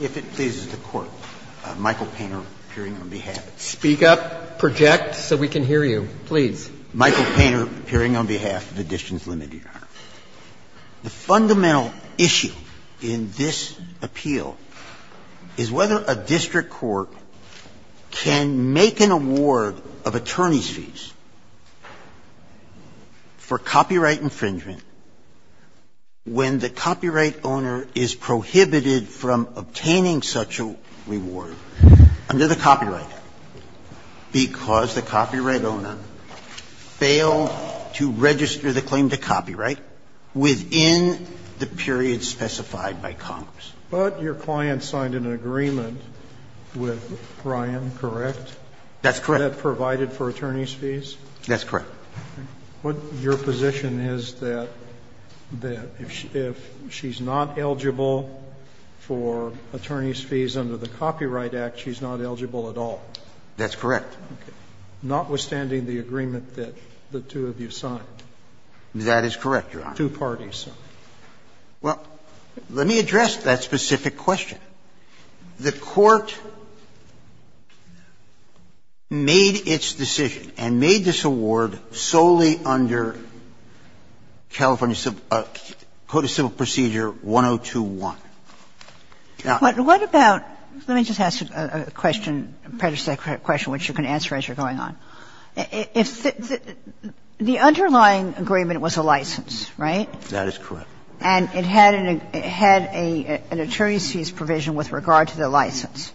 If it pleases the Court, Michael Painter appearing on behalf of Editions Limited. Speak up, project so we can hear you, please. Michael Painter appearing on behalf of Editions Limited, Your Honor. The fundamental issue in this appeal is whether a district court can make an award of attorney's fees for copyright infringement when the copyright owner is prohibited from obtaining such a reward under the Copyright Act because the copyright owner failed to register the claim to copyright within the period specified by Congress. But your client signed an agreement with Ryan, correct? That's correct. Was that provided for attorney's fees? That's correct. Your position is that if she's not eligible for attorney's fees under the Copyright Act, she's not eligible at all? That's correct. Notwithstanding the agreement that the two of you signed? That is correct, Your Honor. Two parties. Well, let me address that specific question. The Court made its decision and made this award solely under California Code of Civil Procedure 102-1. Now, what about, let me just ask a question, a predecessor question, which you can answer as you're going on. The underlying agreement was a license, right? That is correct. And it had an attorney's fees provision with regard to the license.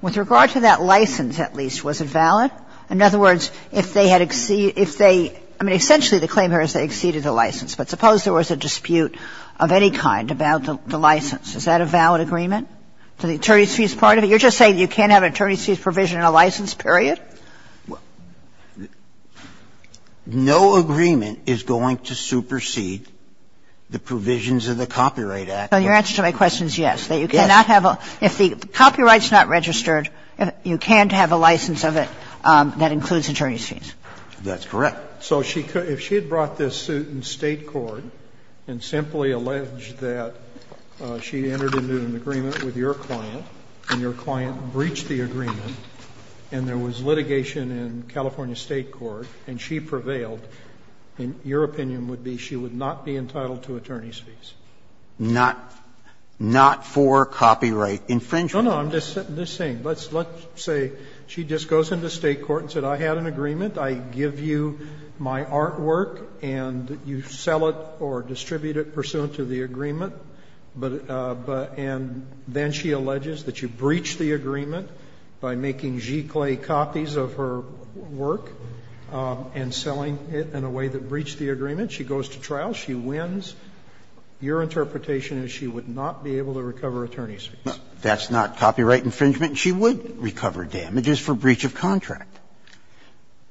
With regard to that license, at least, was it valid? In other words, if they had exceeded the license, but suppose there was a dispute of any kind about the license, is that a valid agreement? You're just saying you can't have an attorney's fees provision in a license period? That's correct. No agreement is going to supersede the provisions of the Copyright Act. Well, your answer to my question is yes. Yes. That you cannot have a – if the copyright's not registered, you can't have a license of it that includes attorney's fees. That's correct. So she could – if she had brought this suit in State court and simply alleged that she entered into an agreement with your client and your client breached the agreement, and there was litigation in California State court, and she prevailed, your opinion would be she would not be entitled to attorney's fees? Not for copyright infringement. No, no. I'm just saying. Let's say she just goes into State court and said, I had an agreement. I give you my artwork and you sell it or distribute it pursuant to the agreement, but – and then she alleges that you breached the agreement by making gicle copies of her work and selling it in a way that breached the agreement. She goes to trial. She wins. Your interpretation is she would not be able to recover attorney's fees. That's not copyright infringement. She would recover damages for breach of contract.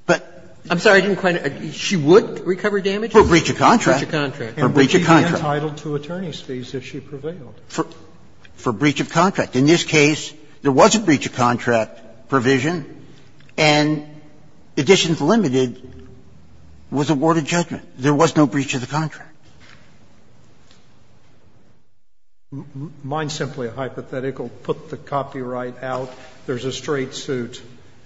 But – I'm sorry. I didn't quite – she would recover damages? For breach of contract. For breach of contract. For breach of contract. She would be entitled to attorney's fees if she prevailed. For breach of contract. In this case, there was a breach of contract provision, and Additions Limited was awarded judgment. There was no breach of the contract. Mine's simply a hypothetical. Put the copyright out. There's a straight suit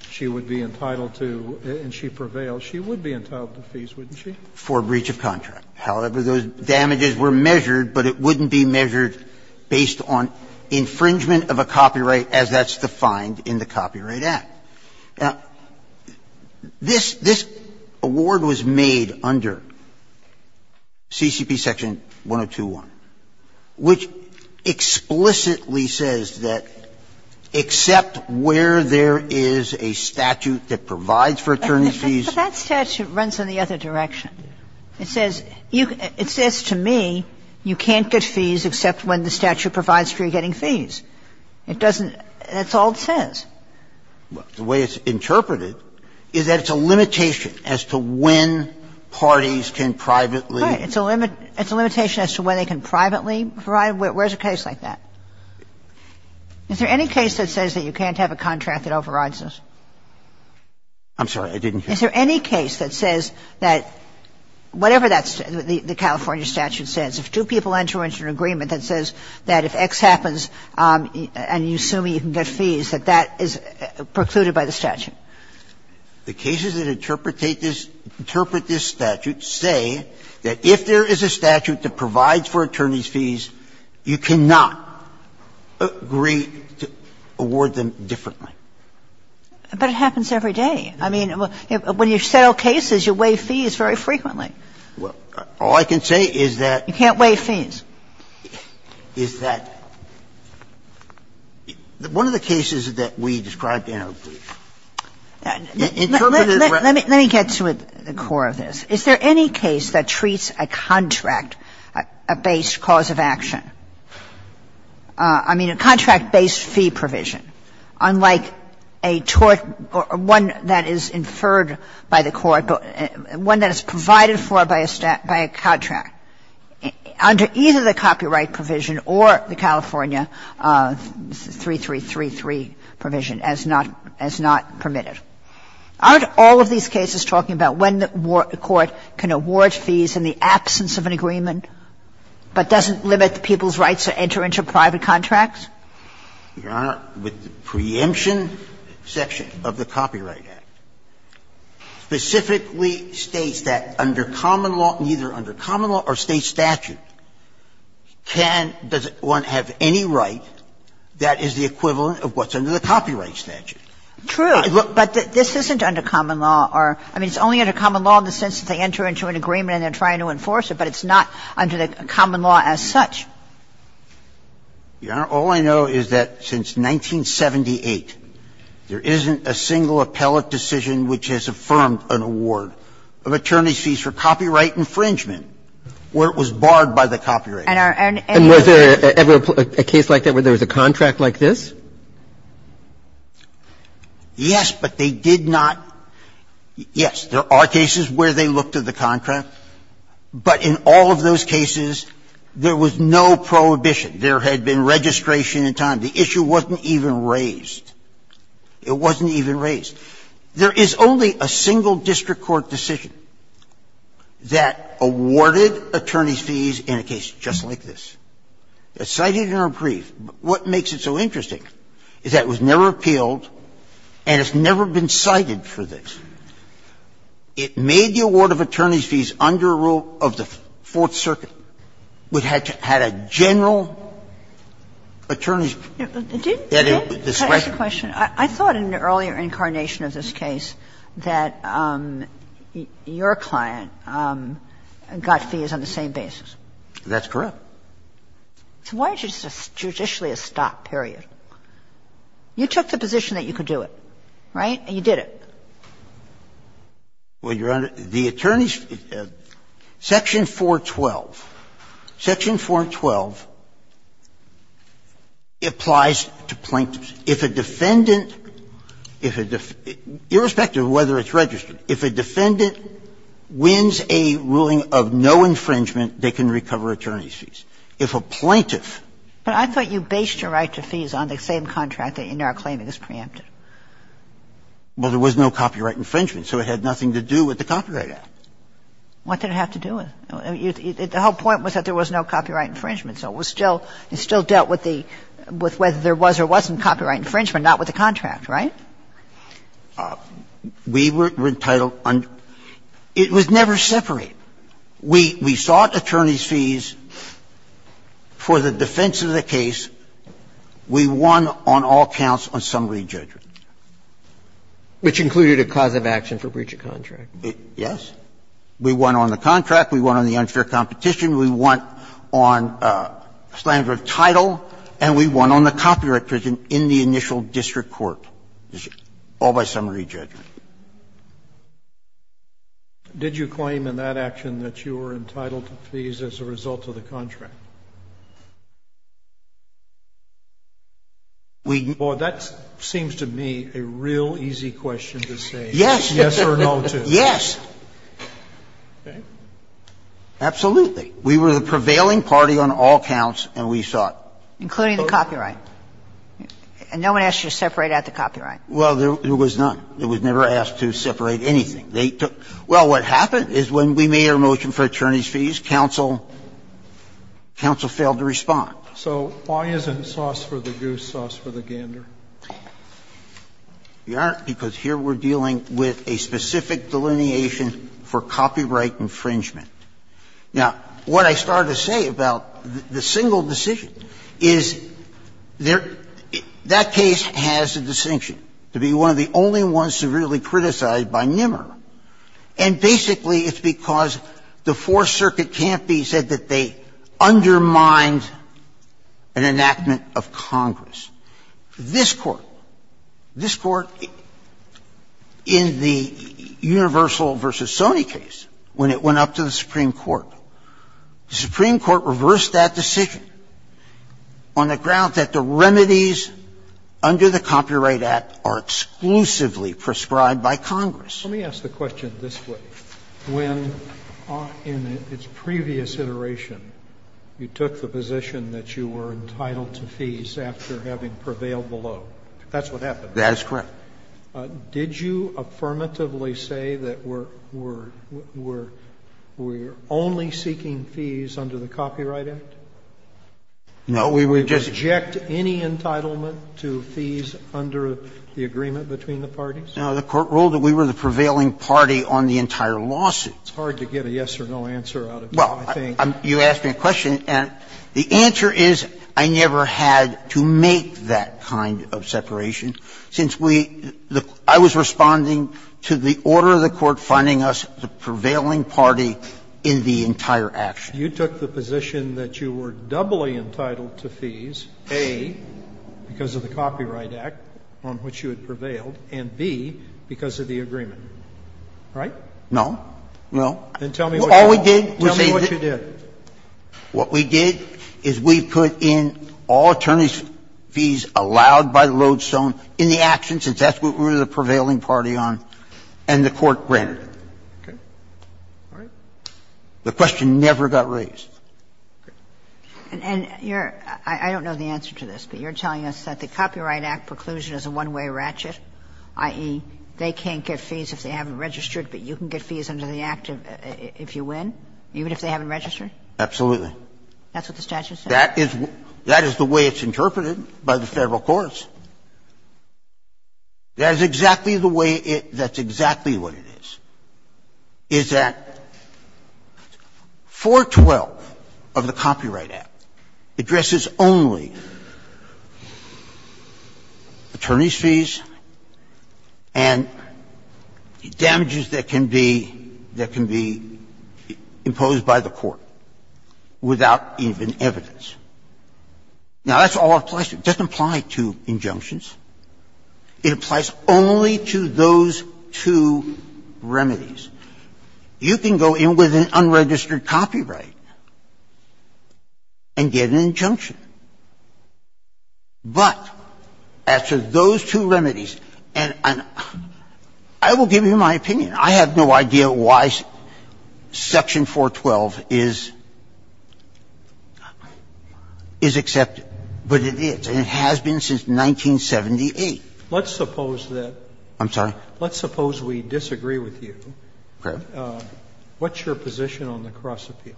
she would be entitled to and she prevailed. She would be entitled to fees, wouldn't she? For breach of contract. However, those damages were measured, but it wouldn't be measured based on infringement of a copyright as that's defined in the Copyright Act. Now, this – this award was made under CCP Section 102.1, which explicitly says that except where there is a statute that provides for attorney's fees – But that statute runs in the other direction. It says – it says to me you can't get fees except when the statute provides for you getting fees. It doesn't – that's all it says. The way it's interpreted is that it's a limitation as to when parties can privately Right. It's a limit – it's a limitation as to when they can privately provide – where's a case like that? Is there any case that says that you can't have a contract that overrides this? I'm sorry. I didn't hear you. Is there any case that says that whatever that's – the California statute says, if two people enter into an agreement that says that if X happens and you assume you can get fees, that that is precluded by the statute? The cases that interpretate this – interpret this statute say that if there is a statute that provides for attorney's fees, you cannot agree to award them differently. But it happens every day. I mean, when you settle cases, you waive fees very frequently. Well, all I can say is that – You can't waive fees. Is that – one of the cases that we described in our brief, interpret it as – Let me get to the core of this. Is there any case that treats a contract-based cause of action, I mean, a contract-based case, as a fee provision, unlike a tort or one that is inferred by the court, one that is provided for by a contract under either the copyright provision or the California 3333 provision as not permitted? Aren't all of these cases talking about when the court can award fees in the absence of an agreement but doesn't limit people's rights to enter into private contracts? Your Honor, the preemption section of the Copyright Act specifically states that under common law, either under common law or State statute, can – does one have any right that is the equivalent of what's under the copyright statute. True. But this isn't under common law or – I mean, it's only under common law in the sense that they enter into an agreement and they're trying to enforce it, but it's not under the common law as such. Your Honor, all I know is that since 1978, there isn't a single appellate decision which has affirmed an award of attorney's fees for copyright infringement where it was barred by the copyright act. And was there ever a case like that where there was a contract like this? Yes, but they did not – yes, there are cases where they looked at the contract. But in all of those cases, there was no prohibition. There had been registration in time. The issue wasn't even raised. It wasn't even raised. There is only a single district court decision that awarded attorney's fees in a case just like this. It's cited in our brief. What makes it so interesting is that it was never appealed and it's never been cited for this. It made the award of attorney's fees under a rule of the Fourth Circuit. We had to – had a general attorney's discretion. I thought in an earlier incarnation of this case that your client got fees on the same basis. That's correct. So why is it just judicially a stop, period? You took the position that you could do it, right? And you did it. Well, Your Honor, the attorney's – Section 412, Section 412 applies to plaintiffs. If a defendant – if a – irrespective of whether it's registered, if a defendant wins a ruling of no infringement, they can recover attorney's fees. If a plaintiff – But I thought you based your right to fees on the same contract in our claim that was preempted. Well, there was no copyright infringement, so it had nothing to do with the Copyright Act. What did it have to do with? The whole point was that there was no copyright infringement, so it was still – it still dealt with the – with whether there was or wasn't copyright infringement, not with the contract, right? We were entitled – it was never separate. We sought attorney's fees for the defense of the case. We won on all counts on summary judgment. Which included a cause of action for breach of contract. Yes. We won on the contract. We won on the unfair competition. We won on slander of title. And we won on the copyright infringement in the initial district court, all by summary judgment. Did you claim in that action that you were entitled to fees as a result of the contract? We – Well, that seems to me a real easy question to say. Yes. Yes or no to. Yes. Okay. Absolutely. We were the prevailing party on all counts, and we sought. Including the copyright. And no one asked you to separate out the copyright. Well, there was none. It was never asked to separate anything. fees, counsel – counsel, counsel, counsel, counsel, counsel, counsel, counsel, counsel failed to respond. So why isn't sauce for the goose, sauce for the gander? We aren't, because here we're dealing with a specific delineation for copyright infringement. Now, what I started to say about the single decision is there – that case has a distinction to be one of the only ones severely criticized by NIMR. And basically it's because the Fourth Circuit can't be said that they undermined an enactment of Congress. This Court – this Court in the Universal v. Sony case, when it went up to the Supreme Court, the Supreme Court reversed that decision on the grounds that the remedies under the Copyright Act are exclusively prescribed by Congress. Let me ask the question this way. When, in its previous iteration, you took the position that you were entitled to fees after having prevailed below. That's what happened, right? That is correct. Did you affirmatively say that we're only seeking fees under the Copyright Act? No, we were just – Did you reject any entitlement to fees under the agreement between the parties? No, the Court ruled that we were the prevailing party on the entire lawsuit. It's hard to get a yes or no answer out of you, I think. Well, you asked me a question, and the answer is I never had to make that kind of separation since we – I was responding to the order of the Court finding us the prevailing party in the entire action. You took the position that you were doubly entitled to fees, A, because of the Copyright Act on which you had prevailed, and B, because of the agreement. Right? No. Then tell me what you did. All we did was say – what we did is we put in all attorneys' fees allowed by the lodestone in the action since that's what we were the prevailing party on, and the Court granted it. Okay. All right. The question never got raised. And you're – I don't know the answer to this, but you're telling us that the Copyright Act preclusion is a one-way ratchet, i.e., they can't get fees if they haven't registered, but you can get fees under the Act if you win, even if they haven't registered? Absolutely. That's what the statute says? That is – that is the way it's interpreted by the Federal courts. That is exactly the way it – that's exactly what it is, is that 412, of the Copyright Act, addresses only attorneys' fees and damages that can be – that can be imposed by the court without even evidence. Now, that's all it applies to. It doesn't apply to injunctions. It applies only to those two remedies. You can go in with an unregistered copyright and get an injunction. But as to those two remedies, and I will give you my opinion. I have no idea why Section 412 is accepted, but it is, and it has been since 1978. Let's suppose that – I'm sorry? Let's suppose we disagree with you. Okay. What's your position on the cross-appeal?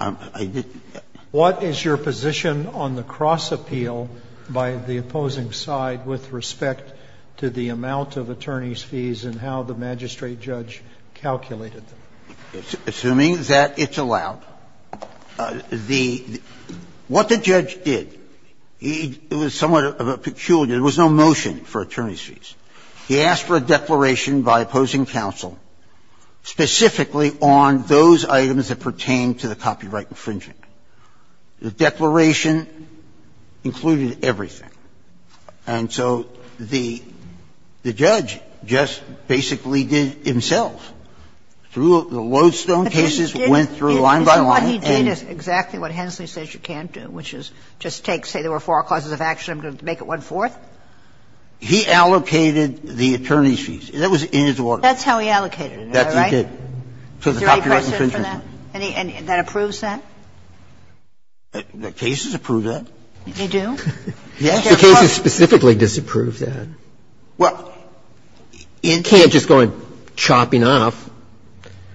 I didn't – What is your position on the cross-appeal by the opposing side with respect to the amount of attorneys' fees and how the magistrate judge calculated them? Assuming that it's allowed, the – what the judge did, he – it was somewhat peculiar. There was no motion for attorneys' fees. He asked for a declaration by opposing counsel specifically on those items that pertain to the copyright infringement. The declaration included everything. And so the judge just basically did it himself through the lodestone cases, went through line by line and – But he did – he did exactly what Hensley says you can't do, which is just take He said, I'm going to make it one-fourth. I'm going to say there were four causes of action. I'm going to make it one-fourth. He allocated the attorneys' fees. That was in his order. That's how he allocated it. Is that right? That's what he did. To the copyright infringement. Is there any precedent for that? Any – that approves that? The cases approve that. They do? Yes. The cases specifically disapprove that. Well, in – You can't just go in chopping off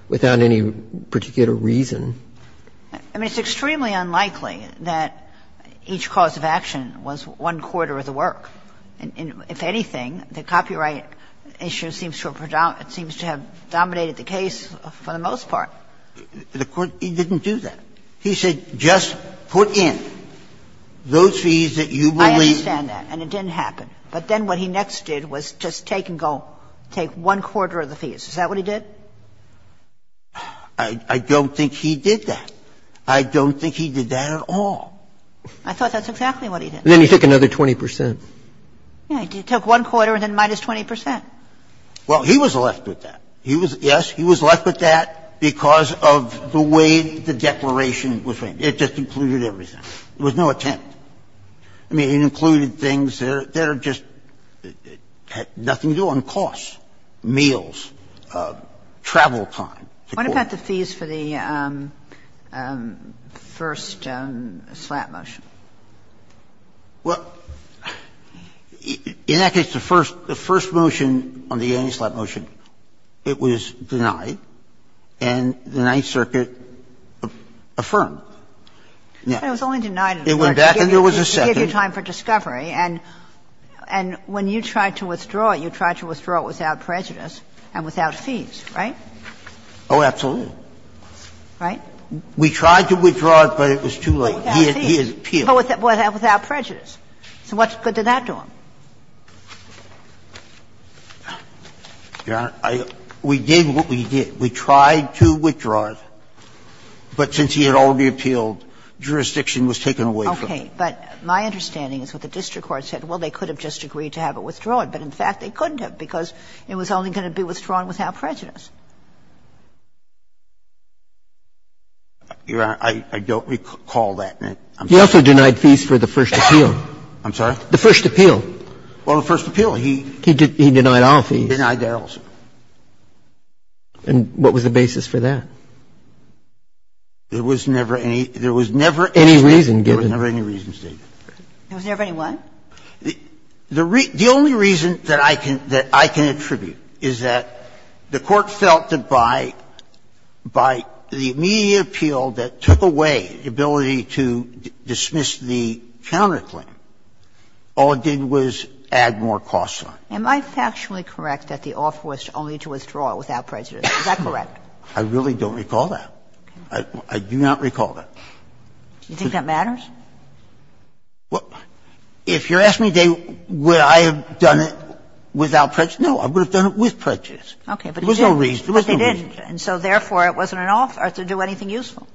without any particular reason. I mean, it's extremely unlikely that each cause of action was one-quarter of the work. If anything, the copyright issue seems to have dominated the case for the most part. The court didn't do that. He said, just put in those fees that you believe – I understand that. And it didn't happen. But then what he next did was just take and go – take one-quarter of the fees. Is that what he did? I don't think he did that. I don't think he did that at all. I thought that's exactly what he did. Then he took another 20 percent. Yeah. He took one-quarter and then minus 20 percent. Well, he was left with that. He was – yes, he was left with that because of the way the declaration was made. It just included everything. There was no attempt. I mean, it included things that are just – had nothing to do on costs. Meals, travel time. What about the fees for the first slap motion? Well, in that case, the first – the first motion on the anti-slap motion, it was denied. And the Ninth Circuit affirmed. But it was only denied in the first case. And the court said, well, we're going to give you time for discovery. It went back and there was a second. To give you time for discovery. And when you tried to withdraw it, you tried to withdraw it without prejudice and without fees, right? Oh, absolutely. Right? We tried to withdraw it, but it was too late. Without fees. He appealed. Without prejudice. So what's good to that dorm? Your Honor, I – we did what we did. We tried to withdraw it. But since he had already appealed, jurisdiction was taken away from him. Okay. But my understanding is that the district court said, well, they could have just agreed to have it withdrawn. But in fact, they couldn't have because it was only going to be withdrawn without prejudice. Your Honor, I don't recall that. I'm sorry. You also denied fees for the first appeal. I'm sorry? The first appeal. Well, the first appeal. He – He denied all fees. He denied all fees. And what was the basis for that? There was never any – there was never any reason given. Any reason given. There was never any reason stated. There was never any what? The only reason that I can – that I can attribute is that the Court felt that by the immediate appeal that took away the ability to dismiss the counterclaim, all it did was add more costs on it. Am I factually correct that the offer was only to withdraw without prejudice? Is that correct? I really don't recall that. Okay. I do not recall that. Do you think that matters? Well, if you're asking me would I have done it without prejudice, no. I would have done it with prejudice. But you didn't. There was no reason. There was no reason. But you didn't. And so therefore, it wasn't an offer to do anything useful.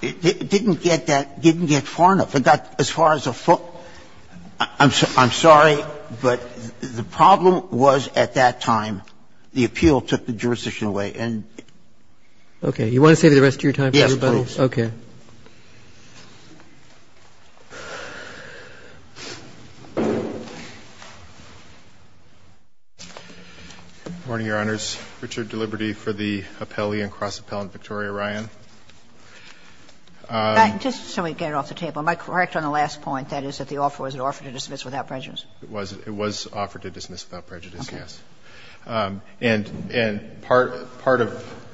It didn't get that – didn't get far enough. If it got as far as a foot – I'm sorry, but the problem was at that time the appeal took the jurisdiction away. Okay. You want to save the rest of your time for everybody? Yes, please. Okay. Good morning, Your Honors. Richard Deliberti for the Appellee and Cross-Appellant Victoria Ryan. Just so we get it off the table, am I correct on the last point, that is, that the offer was an offer to dismiss without prejudice? It was. It was offered to dismiss without prejudice, yes. Okay. And part of –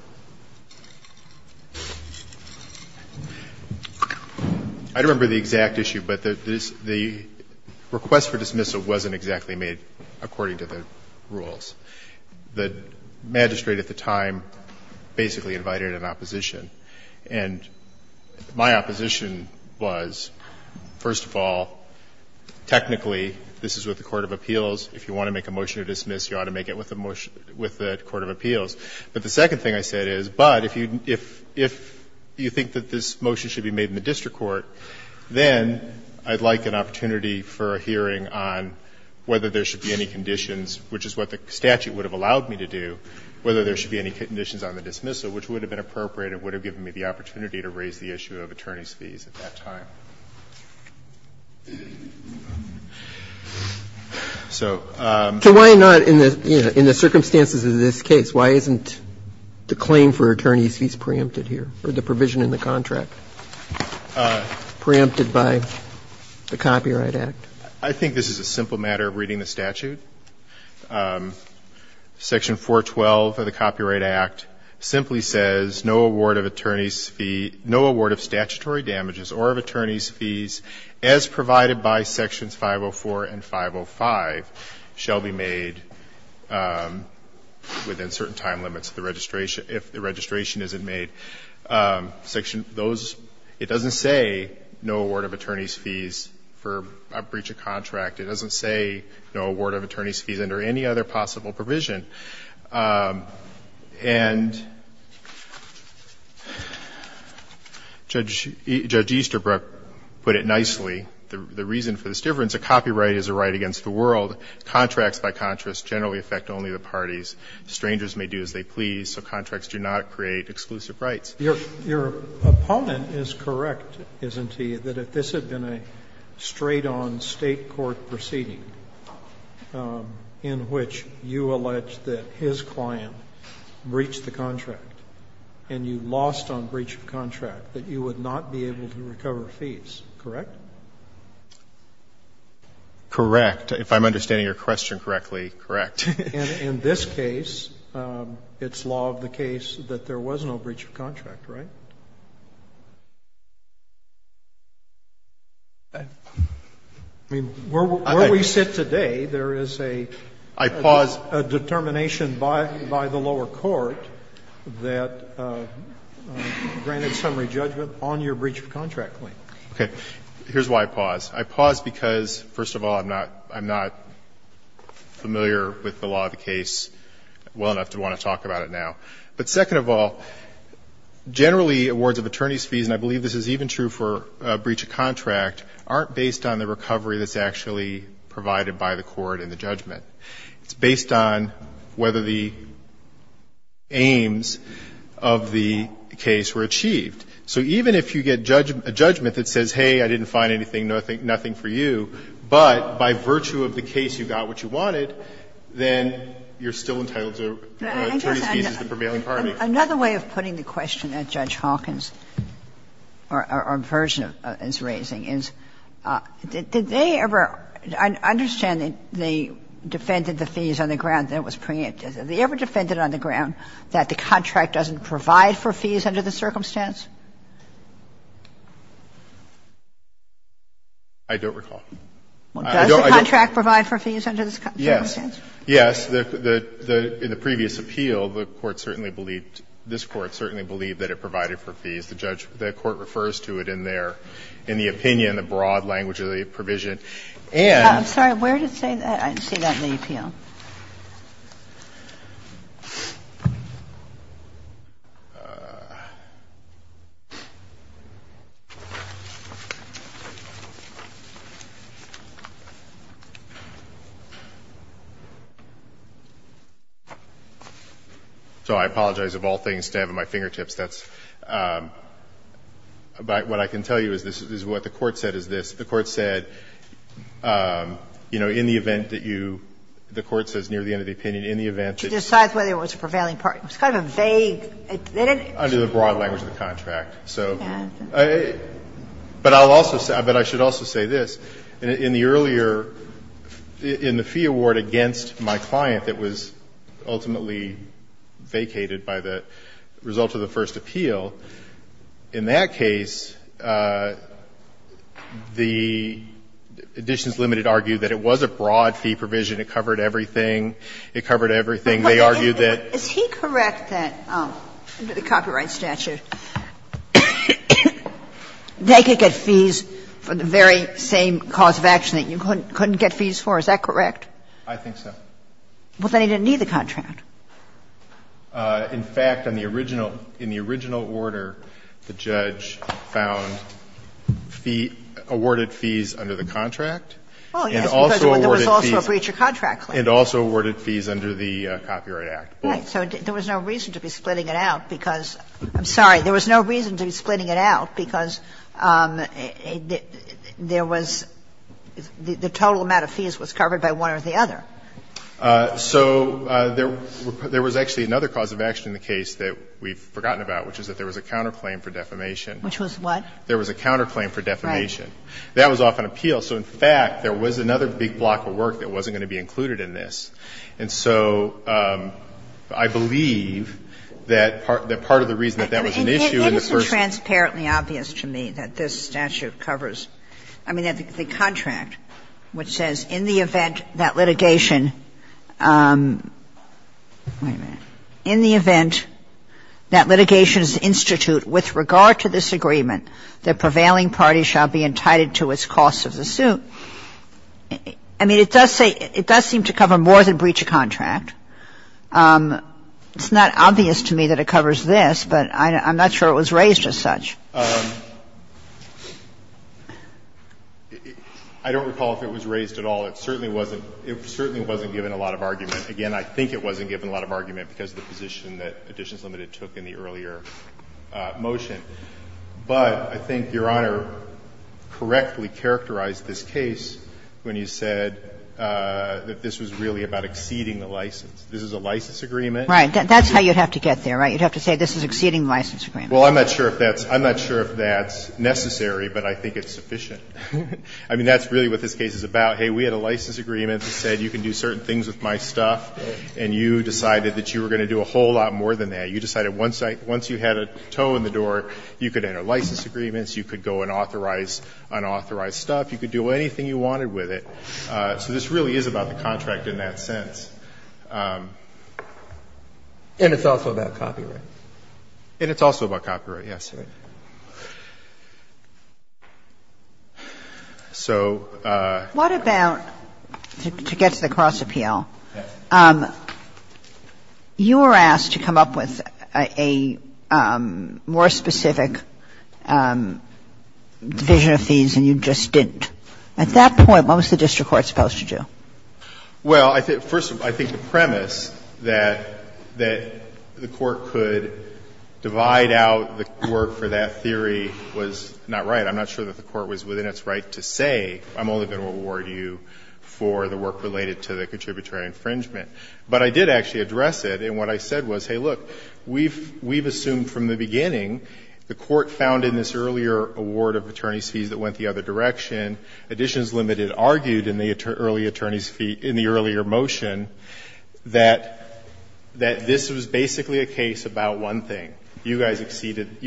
I don't remember the exact issue, but the request for dismissal wasn't exactly made according to the rules. The magistrate at the time basically invited an opposition. And my opposition was, first of all, technically this is with the court of appeals. If you want to make a motion to dismiss, you ought to make it with the court of appeals. But the second thing I said is, but if you think that this motion should be made in the district court, then I'd like an opportunity for a hearing on whether there should be any conditions, which is what the statute would have allowed me to do, whether there should be any conditions on the dismissal, which would have been appropriate and it would have given me the opportunity to raise the issue of attorney's fees at that time. So why not, in the circumstances of this case, why isn't the claim for attorney's fees preempted here, or the provision in the contract preempted by the Copyright Act? Section 412 of the Copyright Act simply says no award of attorney's fee, no award of statutory damages or of attorney's fees, as provided by sections 504 and 505, shall be made within certain time limits of the registration, if the registration isn't made. It doesn't say no award of attorney's fees for a breach of contract. It doesn't say no award of attorney's fees under any other possible provision. And Judge Easterbrook put it nicely. The reason for this difference, a copyright is a right against the world. Contracts, by contrast, generally affect only the parties. Strangers may do as they please, so contracts do not create exclusive rights. Your opponent is correct, isn't he, that if this had been a straight-on State court proceeding, in which you allege that his client breached the contract and you lost on breach of contract, that you would not be able to recover fees, correct? Correct. If I'm understanding your question correctly, correct. And in this case, it's law of the case that there was no breach of contract, right? I mean, where we sit today, there is a determination by the lower court that granted summary judgment on your breach of contract claim. Okay. Here's why I pause. I pause because, first of all, I'm not familiar with the law of the case well enough to want to talk about it now. But second of all, generally awards of attorney's fees, and I believe this is even true for breach of contract, aren't based on the recovery that's actually provided by the court and the judgment. It's based on whether the aims of the case were achieved. So even if you get a judgment that says, hey, I didn't find anything, nothing for you, but by virtue of the case you got what you wanted, then you're still entitled to attorney's fees as the prevailing party. Another way of putting the question that Judge Hawkins or Burgess is raising is, did they ever understand that they defended the fees on the ground that was preempted? Have they ever defended on the ground that the contract doesn't provide for fees under the circumstance? I don't recall. Does the contract provide for fees under the circumstance? Yes. Yes. In the previous appeal, the Court certainly believed, this Court certainly believed that it provided for fees. The judge, the Court refers to it in their, in the opinion, the broad language of the provision. And. I'm sorry. I didn't see that in the appeal. So I apologize of all things to have at my fingertips, that's, but what I can tell you is this, is what the Court said is this. The Court said, you know, in the event that you, the Court says near the end of the opinion, in the event that you. To decide whether it was a prevailing party. It was kind of a vague. Under the broad language of the contract. So. But I'll also say, but I should also say this. In the earlier, in the fee award against my client that was ultimately vacated under the copyright statute. Under the Copyright Statute, the editions limited argued that it was a broad fee provision. It covered everything. It covered everything. They argued that. Is he correct that under the Copyright Statute, they could get fees for the very same cause of action that you couldn't get fees for? Is that correct? I think so. Well, then he didn't need the contract. In fact, on the original, in the original order, the judge found fee, awarded fees under the contract. Oh, yes. And also awarded fees. Because there was also a breach of contract claim. And also awarded fees under the Copyright Act. Right. So there was no reason to be splitting it out because, I'm sorry, there was no reason to be splitting it out because there was, the total amount of fees was covered by one or the other. So there was actually another cause of action in the case that we've forgotten about, which is that there was a counterclaim for defamation. Which was what? There was a counterclaim for defamation. Right. That was off an appeal. So, in fact, there was another big block of work that wasn't going to be included in this. And so I believe that part of the reason that that was an issue in the first It is transparently obvious to me that this statute covers, I mean, the contract which says, in the event that litigation, wait a minute, in the event that litigation is institute with regard to this agreement, the prevailing party shall be entitled to its cost of the suit, I mean, it does say, it does seem to cover more than breach of contract. It's not obvious to me that it covers this, but I'm not sure it was raised as such. I don't recall if it was raised at all. It certainly wasn't. It certainly wasn't given a lot of argument. Again, I think it wasn't given a lot of argument because of the position that Additions Limited took in the earlier motion. But I think Your Honor correctly characterized this case when you said that this was really about exceeding the license. This is a license agreement. Right. That's how you'd have to get there, right? You'd have to say this is exceeding the license agreement. Well, I'm not sure if that's necessary, but I think it's sufficient. I mean, that's really what this case is about. Hey, we had a license agreement that said you can do certain things with my stuff, and you decided that you were going to do a whole lot more than that. You decided once you had a toe in the door, you could enter license agreements, you could go and authorize unauthorized stuff, you could do anything you wanted with it. So this really is about the contract in that sense. And it's also about copyright. And it's also about copyright, yes. So ---- What about, to get to the cross appeal, you were asked to come up with a more specific vision of fees, and you just didn't. At that point, what was the district court supposed to do? Well, first of all, I think the premise that the court could divide out the work for that theory was not right. I'm not sure that the court was within its right to say, I'm only going to award you for the work related to the contributory infringement. But I did actually address it, and what I said was, hey, look, we've assumed from the beginning the court found in this earlier award of attorney's fees that went the other direction. Additions Limited argued in the early attorney's fee ---- in the earlier motion that this was basically a case about one thing. You guys exceeded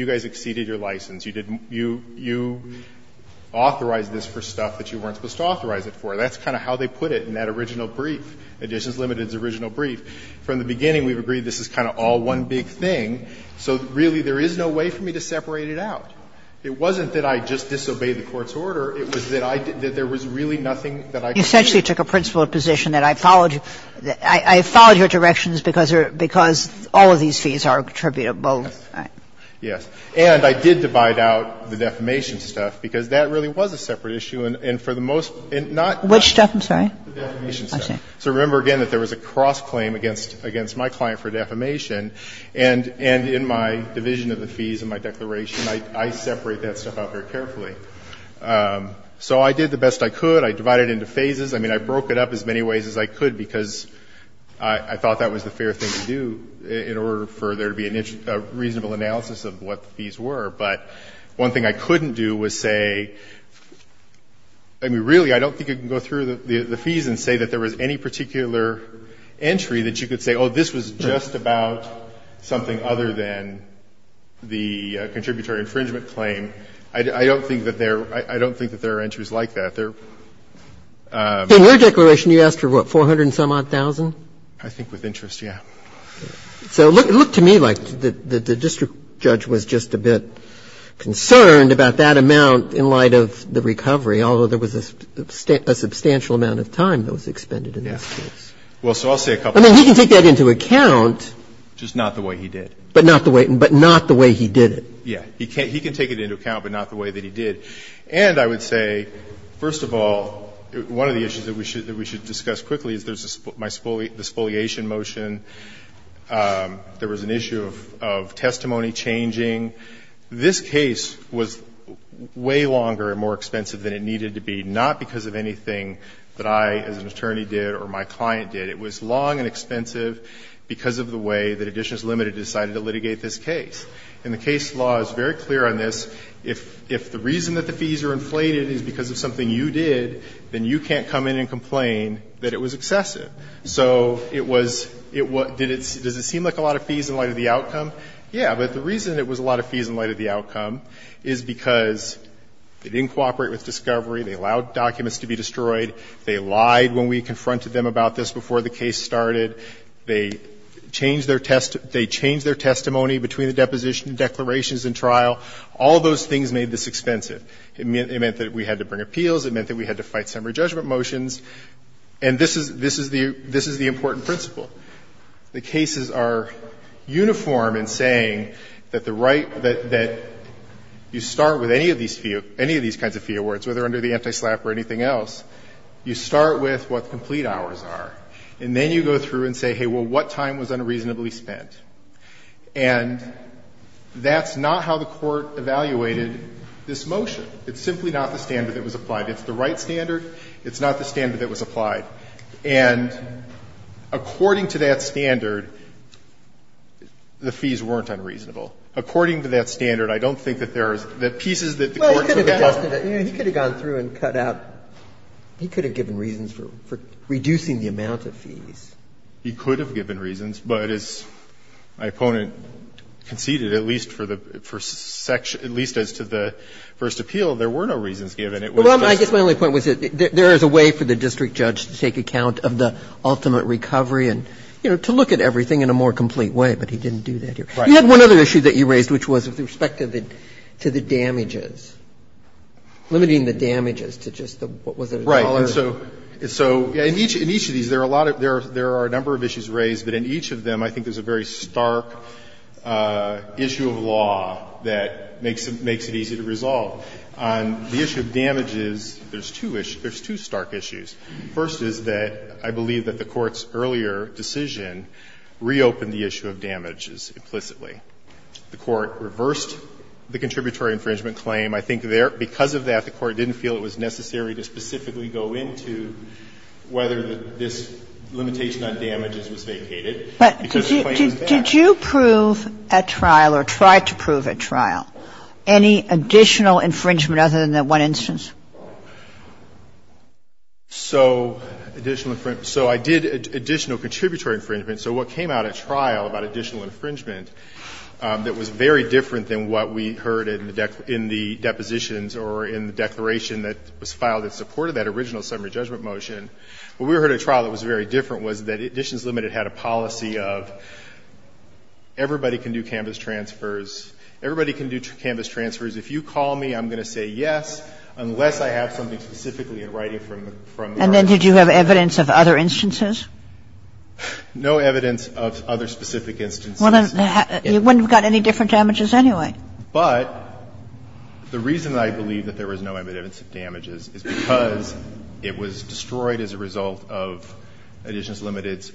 your license. You authorized this for stuff that you weren't supposed to authorize it for. That's kind of how they put it in that original brief. Additions Limited's original brief. From the beginning, we've agreed this is kind of all one big thing. So really, there is no way for me to separate it out. It wasn't that I just disobeyed the court's order. It was that there was really nothing that I could do. You essentially took a principled position that I followed your directions because all of these fees are attributable. Yes. And I did divide out the defamation stuff, because that really was a separate issue, and for the most part ---- Which stuff, I'm sorry? The defamation stuff. So remember, again, that there was a cross-claim against my client for defamation. And in my division of the fees in my declaration, I separate that stuff out very carefully. So I did the best I could. I divided it into phases. I mean, I broke it up as many ways as I could because I thought that was the fair thing to do in order for there to be a reasonable analysis of what the fees were. But one thing I couldn't do was say ---- I mean, really, I don't think you can go through the fees and say that there was any particular entry that you could say, oh, this was just about something other than the contributory infringement claim. I don't think that there are entries like that. There are ---- In your declaration, you asked for, what, 400 and some-odd thousand? I think with interest, yes. So it looked to me like the district judge was just a bit concerned about that amount in light of the recovery, although there was a substantial amount of time that was expended in this case. Well, so I'll say a couple of things. I mean, he can take that into account. Just not the way he did. But not the way he did it. Yes. He can take it into account, but not the way that he did. And I would say, first of all, one of the issues that we should discuss quickly is there's my spoliation motion. There was an issue of testimony changing. This case was way longer and more expensive than it needed to be, not because of anything that I, as an attorney, did or my client did. It was long and expensive because of the way that Additions Limited decided to litigate this case. And the case law is very clear on this. If the reason that the fees are inflated is because of something you did, then you can't come in and complain that it was excessive. So it was does it seem like a lot of fees in light of the outcome? Yes. But the reason it was a lot of fees in light of the outcome is because they didn't cooperate with discovery. They allowed documents to be destroyed. They lied when we confronted them about this before the case started. They changed their testimony between the deposition and declarations in trial. All of those things made this expensive. It meant that we had to bring appeals. It meant that we had to fight summary judgment motions. And this is the important principle. The cases are uniform in saying that the right that you start with any of these kinds of fee awards, whether under the anti-SLAPP or anything else, you start with what complete hours are. And then you go through and say, hey, well, what time was unreasonably spent? And that's not how the Court evaluated this motion. It's simply not the standard that was applied. It's the right standard. It's not the standard that was applied. And according to that standard, the fees weren't unreasonable. According to that standard, I don't think that there's the pieces that the Court could have cut. Well, you could have adjusted it. You could have gone through and cut out. He could have given reasons for reducing the amount of fees. He could have given reasons. But as my opponent conceded, at least for the first section, at least as to the first appeal, there were no reasons given. It was just... Well, I guess my only point was that there is a way for the district judge to take account of the ultimate recovery and, you know, to look at everything in a more complete way. But he didn't do that here. Right. You had one other issue that you raised, which was with respect to the damages, limiting the damages to just the... Right. And so in each of these, there are a number of issues raised, but in each of them, I think there's a very stark issue of law that makes it easy to resolve. On the issue of damages, there's two stark issues. First is that I believe that the Court's earlier decision reopened the issue of damages implicitly. The Court reversed the contributory infringement claim. I think because of that, the Court didn't feel it was necessary to specifically go into whether this limitation on damages was vacated. But did you prove at trial or try to prove at trial any additional infringement other than that one instance? So additional infringement. So I did additional contributory infringement. So what came out at trial about additional infringement that was very different than what we heard in the depositions or in the declaration that was filed that supported that original summary judgment motion. What we heard at trial that was very different was that Additions Limited had a policy of everybody can do canvass transfers. Everybody can do canvass transfers. If you call me, I'm going to say yes, unless I have something specifically in writing from the... And then did you have evidence of other instances? No evidence of other specific instances. You wouldn't have got any different damages anyway. But the reason I believe that there was no evidence of damages is because it was destroyed as a result of Additions Limited's...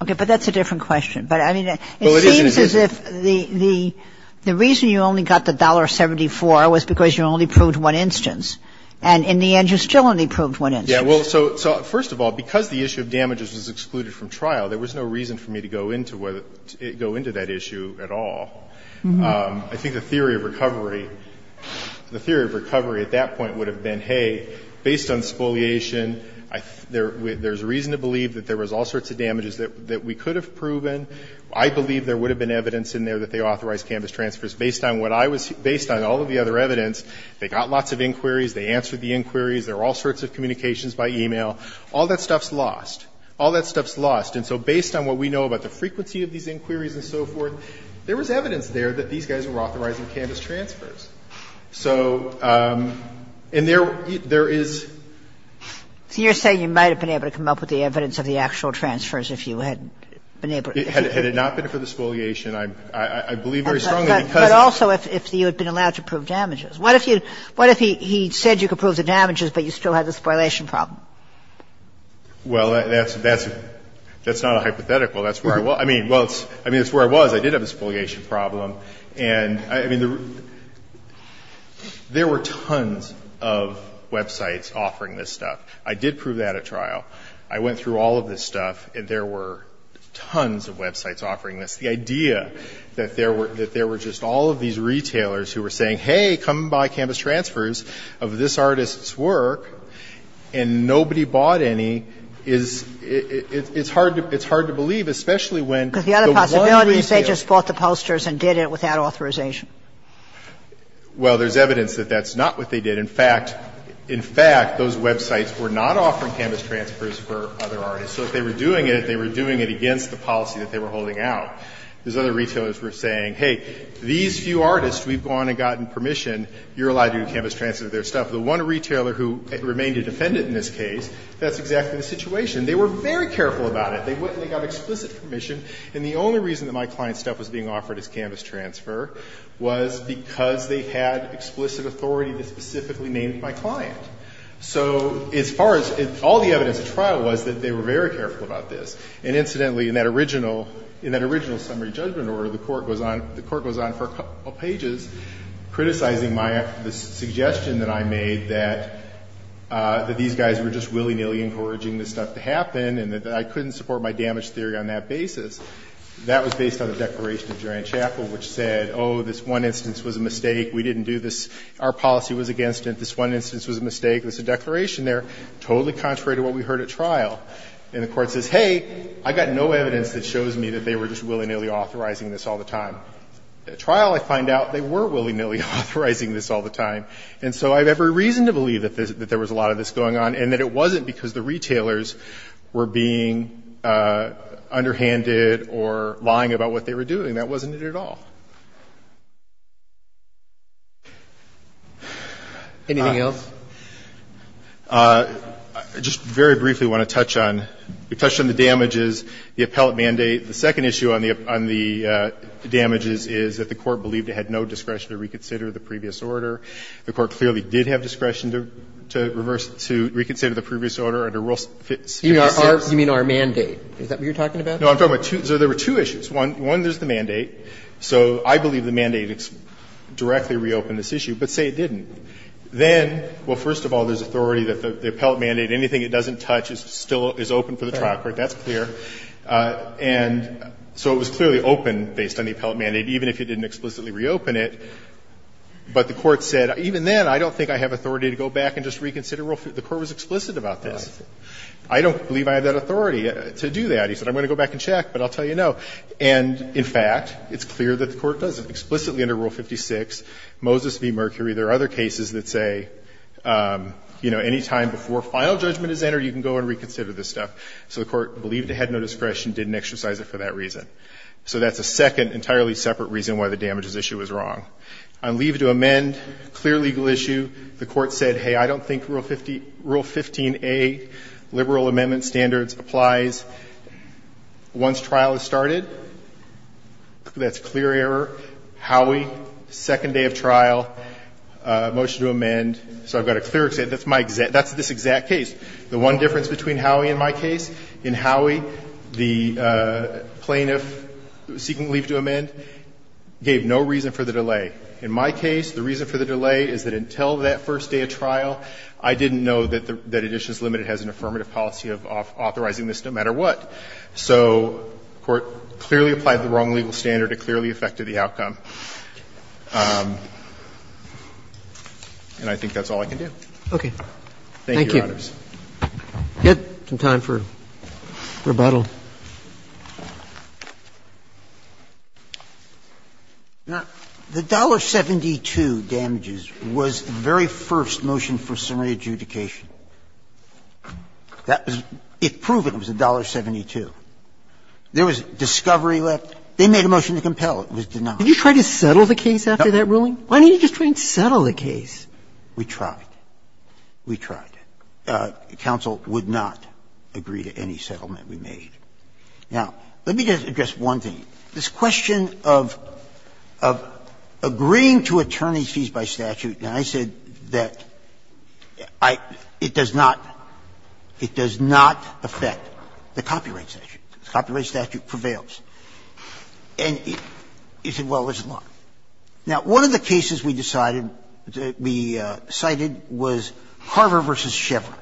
Okay. But that's a different question. But I mean, it seems as if the reason you only got the $1.74 was because you only proved one instance. And in the end, you still only proved one instance. Yeah. Well, so first of all, because the issue of damages was excluded from trial, there was no reason for me to go into that issue at all. I think the theory of recovery at that point would have been, hey, based on spoliation, there's reason to believe that there was all sorts of damages that we could have proven. I believe there would have been evidence in there that they authorized canvass transfers based on all of the other evidence. They got lots of inquiries. They answered the inquiries. There were all sorts of communications by email. All that stuff's lost. All that stuff's lost. And so based on what we know about the frequency of these inquiries and so forth, there was evidence there that these guys were authorizing canvass transfers. So, and there is... So you're saying you might have been able to come up with the evidence of the actual transfers if you had been able to... Had it not been for the spoliation, I believe very strongly because... But also if you had been allowed to prove damages. What if he said you could prove the damages, but you still had the spoliation problem? Well, that's not a hypothetical. That's where I was. I mean, it's where I was. I did have a spoliation problem. And I mean, there were tons of websites offering this stuff. I did prove that at trial. I went through all of this stuff, and there were tons of websites offering this. The idea that there were just all of these retailers who were saying, hey, come buy canvass transfers of this artist's work, and nobody bought any, is... It's hard to believe, especially when... Because the other possibility is they just bought the posters and did it without authorization. Well, there's evidence that that's not what they did. In fact, those websites were not offering canvass transfers for other artists. So if they were doing it, they were doing it against the policy that they were holding out. If you have permission, you're allowed to do canvass transfers of their stuff. The one retailer who remained a defendant in this case, that's exactly the situation. They were very careful about it. They got explicit permission. And the only reason that my client's stuff was being offered as canvass transfer was because they had explicit authority that specifically named my client. So as far as... All the evidence at trial was that they were very careful about this. And incidentally, in that original summary judgment order, the court goes on for a while criticizing the suggestion that I made that these guys were just willy-nilly encouraging this stuff to happen and that I couldn't support my damage theory on that basis. That was based on the declaration of Durand-Chapel, which said, oh, this one instance was a mistake. We didn't do this. Our policy was against it. This one instance was a mistake. There's a declaration there. Totally contrary to what we heard at trial. And the court says, hey, I got no evidence that shows me that they were just willy-nilly authorizing this all the time. At trial, I find out they were willy-nilly authorizing this all the time. And so I have every reason to believe that there was a lot of this going on and that it wasn't because the retailers were being underhanded or lying about what they were doing. That wasn't it at all. Anything else? I just very briefly want to touch on... We touched on the damages, the appellate mandate. The second issue on the damages is that the Court believed it had no discretion to reconsider the previous order. The Court clearly did have discretion to reverse, to reconsider the previous order under Rule 56. You mean our mandate. Is that what you're talking about? No, I'm talking about two. So there were two issues. One, there's the mandate. So I believe the mandate directly reopened this issue, but say it didn't. Then, well, first of all, there's authority that the appellate mandate, anything it doesn't touch is still open for the trial court. That's clear. And so it was clearly open based on the appellate mandate, even if it didn't explicitly reopen it. But the Court said, even then, I don't think I have authority to go back and just reconsider Rule 56. The Court was explicit about this. I don't believe I have that authority to do that. He said, I'm going to go back and check, but I'll tell you no. And, in fact, it's clear that the Court doesn't. Explicitly under Rule 56, Moses v. Mercury, there are other cases that say, you know, any time before final judgment is entered, you can go and reconsider this stuff. So the Court believed it had no discretion, didn't exercise it for that reason. So that's a second entirely separate reason why the damages issue is wrong. On leave to amend, clear legal issue, the Court said, hey, I don't think Rule 15A, liberal amendment standards, applies. Once trial has started, that's clear error. Howie, second day of trial, motion to amend. So I've got a clear, that's my exact, that's this exact case. The one difference between Howie and my case, in Howie, the plaintiff seeking leave to amend gave no reason for the delay. In my case, the reason for the delay is that until that first day of trial, I didn't know that Editions Limited has an affirmative policy of authorizing this no matter what. So the Court clearly applied the wrong legal standard. It clearly affected the outcome. And I think that's all I can do. Roberts. Okay. Thank you, Your Honors. We have some time for rebuttal. Now, the $1.72 damages was the very first motion for summary adjudication. That was, it proved it was $1.72. There was discovery left. They made a motion to compel. It was denied. Did you try to settle the case after that ruling? Why didn't you just try and settle the case? We tried. We tried. Counsel would not agree to any settlement we made. Now, let me just address one thing. This question of agreeing to attorney's fees by statute, and I said that it does not, it does not affect the copyright statute. The copyright statute prevails. And you said, well, it's not. Now, one of the cases we decided, we cited was Carver v. Chevron.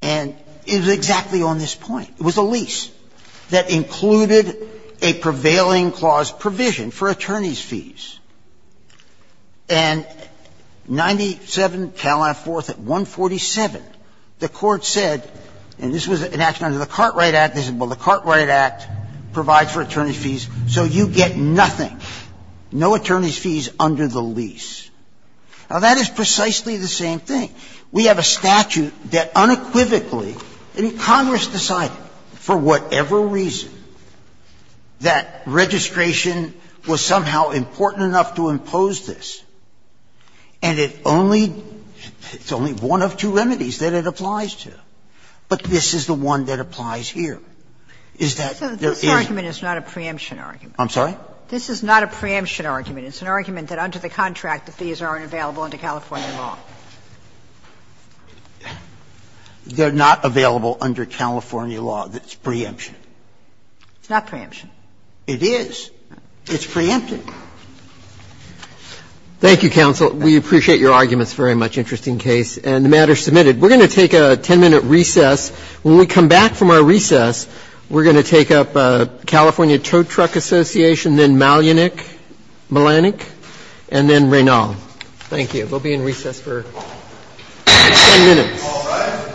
And it was exactly on this point. It was a lease that included a prevailing clause provision for attorney's fees. And 97-4 at 147, the Court said, and this was an action under the Cartwright Act, they said, well, the Cartwright Act provides for attorney's fees. So you get nothing. No attorney's fees under the lease. Now, that is precisely the same thing. We have a statute that unequivocally, and Congress decided for whatever reason that registration was somehow important enough to impose this. And it only, it's only one of two remedies that it applies to. But this is the one that applies here, is that there is. This argument is not a preemption argument. I'm sorry? This is not a preemption argument. It's an argument that under the contract, the fees aren't available under California law. They're not available under California law. That's preemption. It's not preemption. It is. It's preempted. Thank you, counsel. We appreciate your arguments. Very much interesting case. And the matter is submitted. We're going to take a 10-minute recess. When we come back from our recess, we're going to take up California Tow Truck Association, then Malunik, Malanik, and then Raynald. Thank you. We'll be in recess for 10 minutes. Thank you.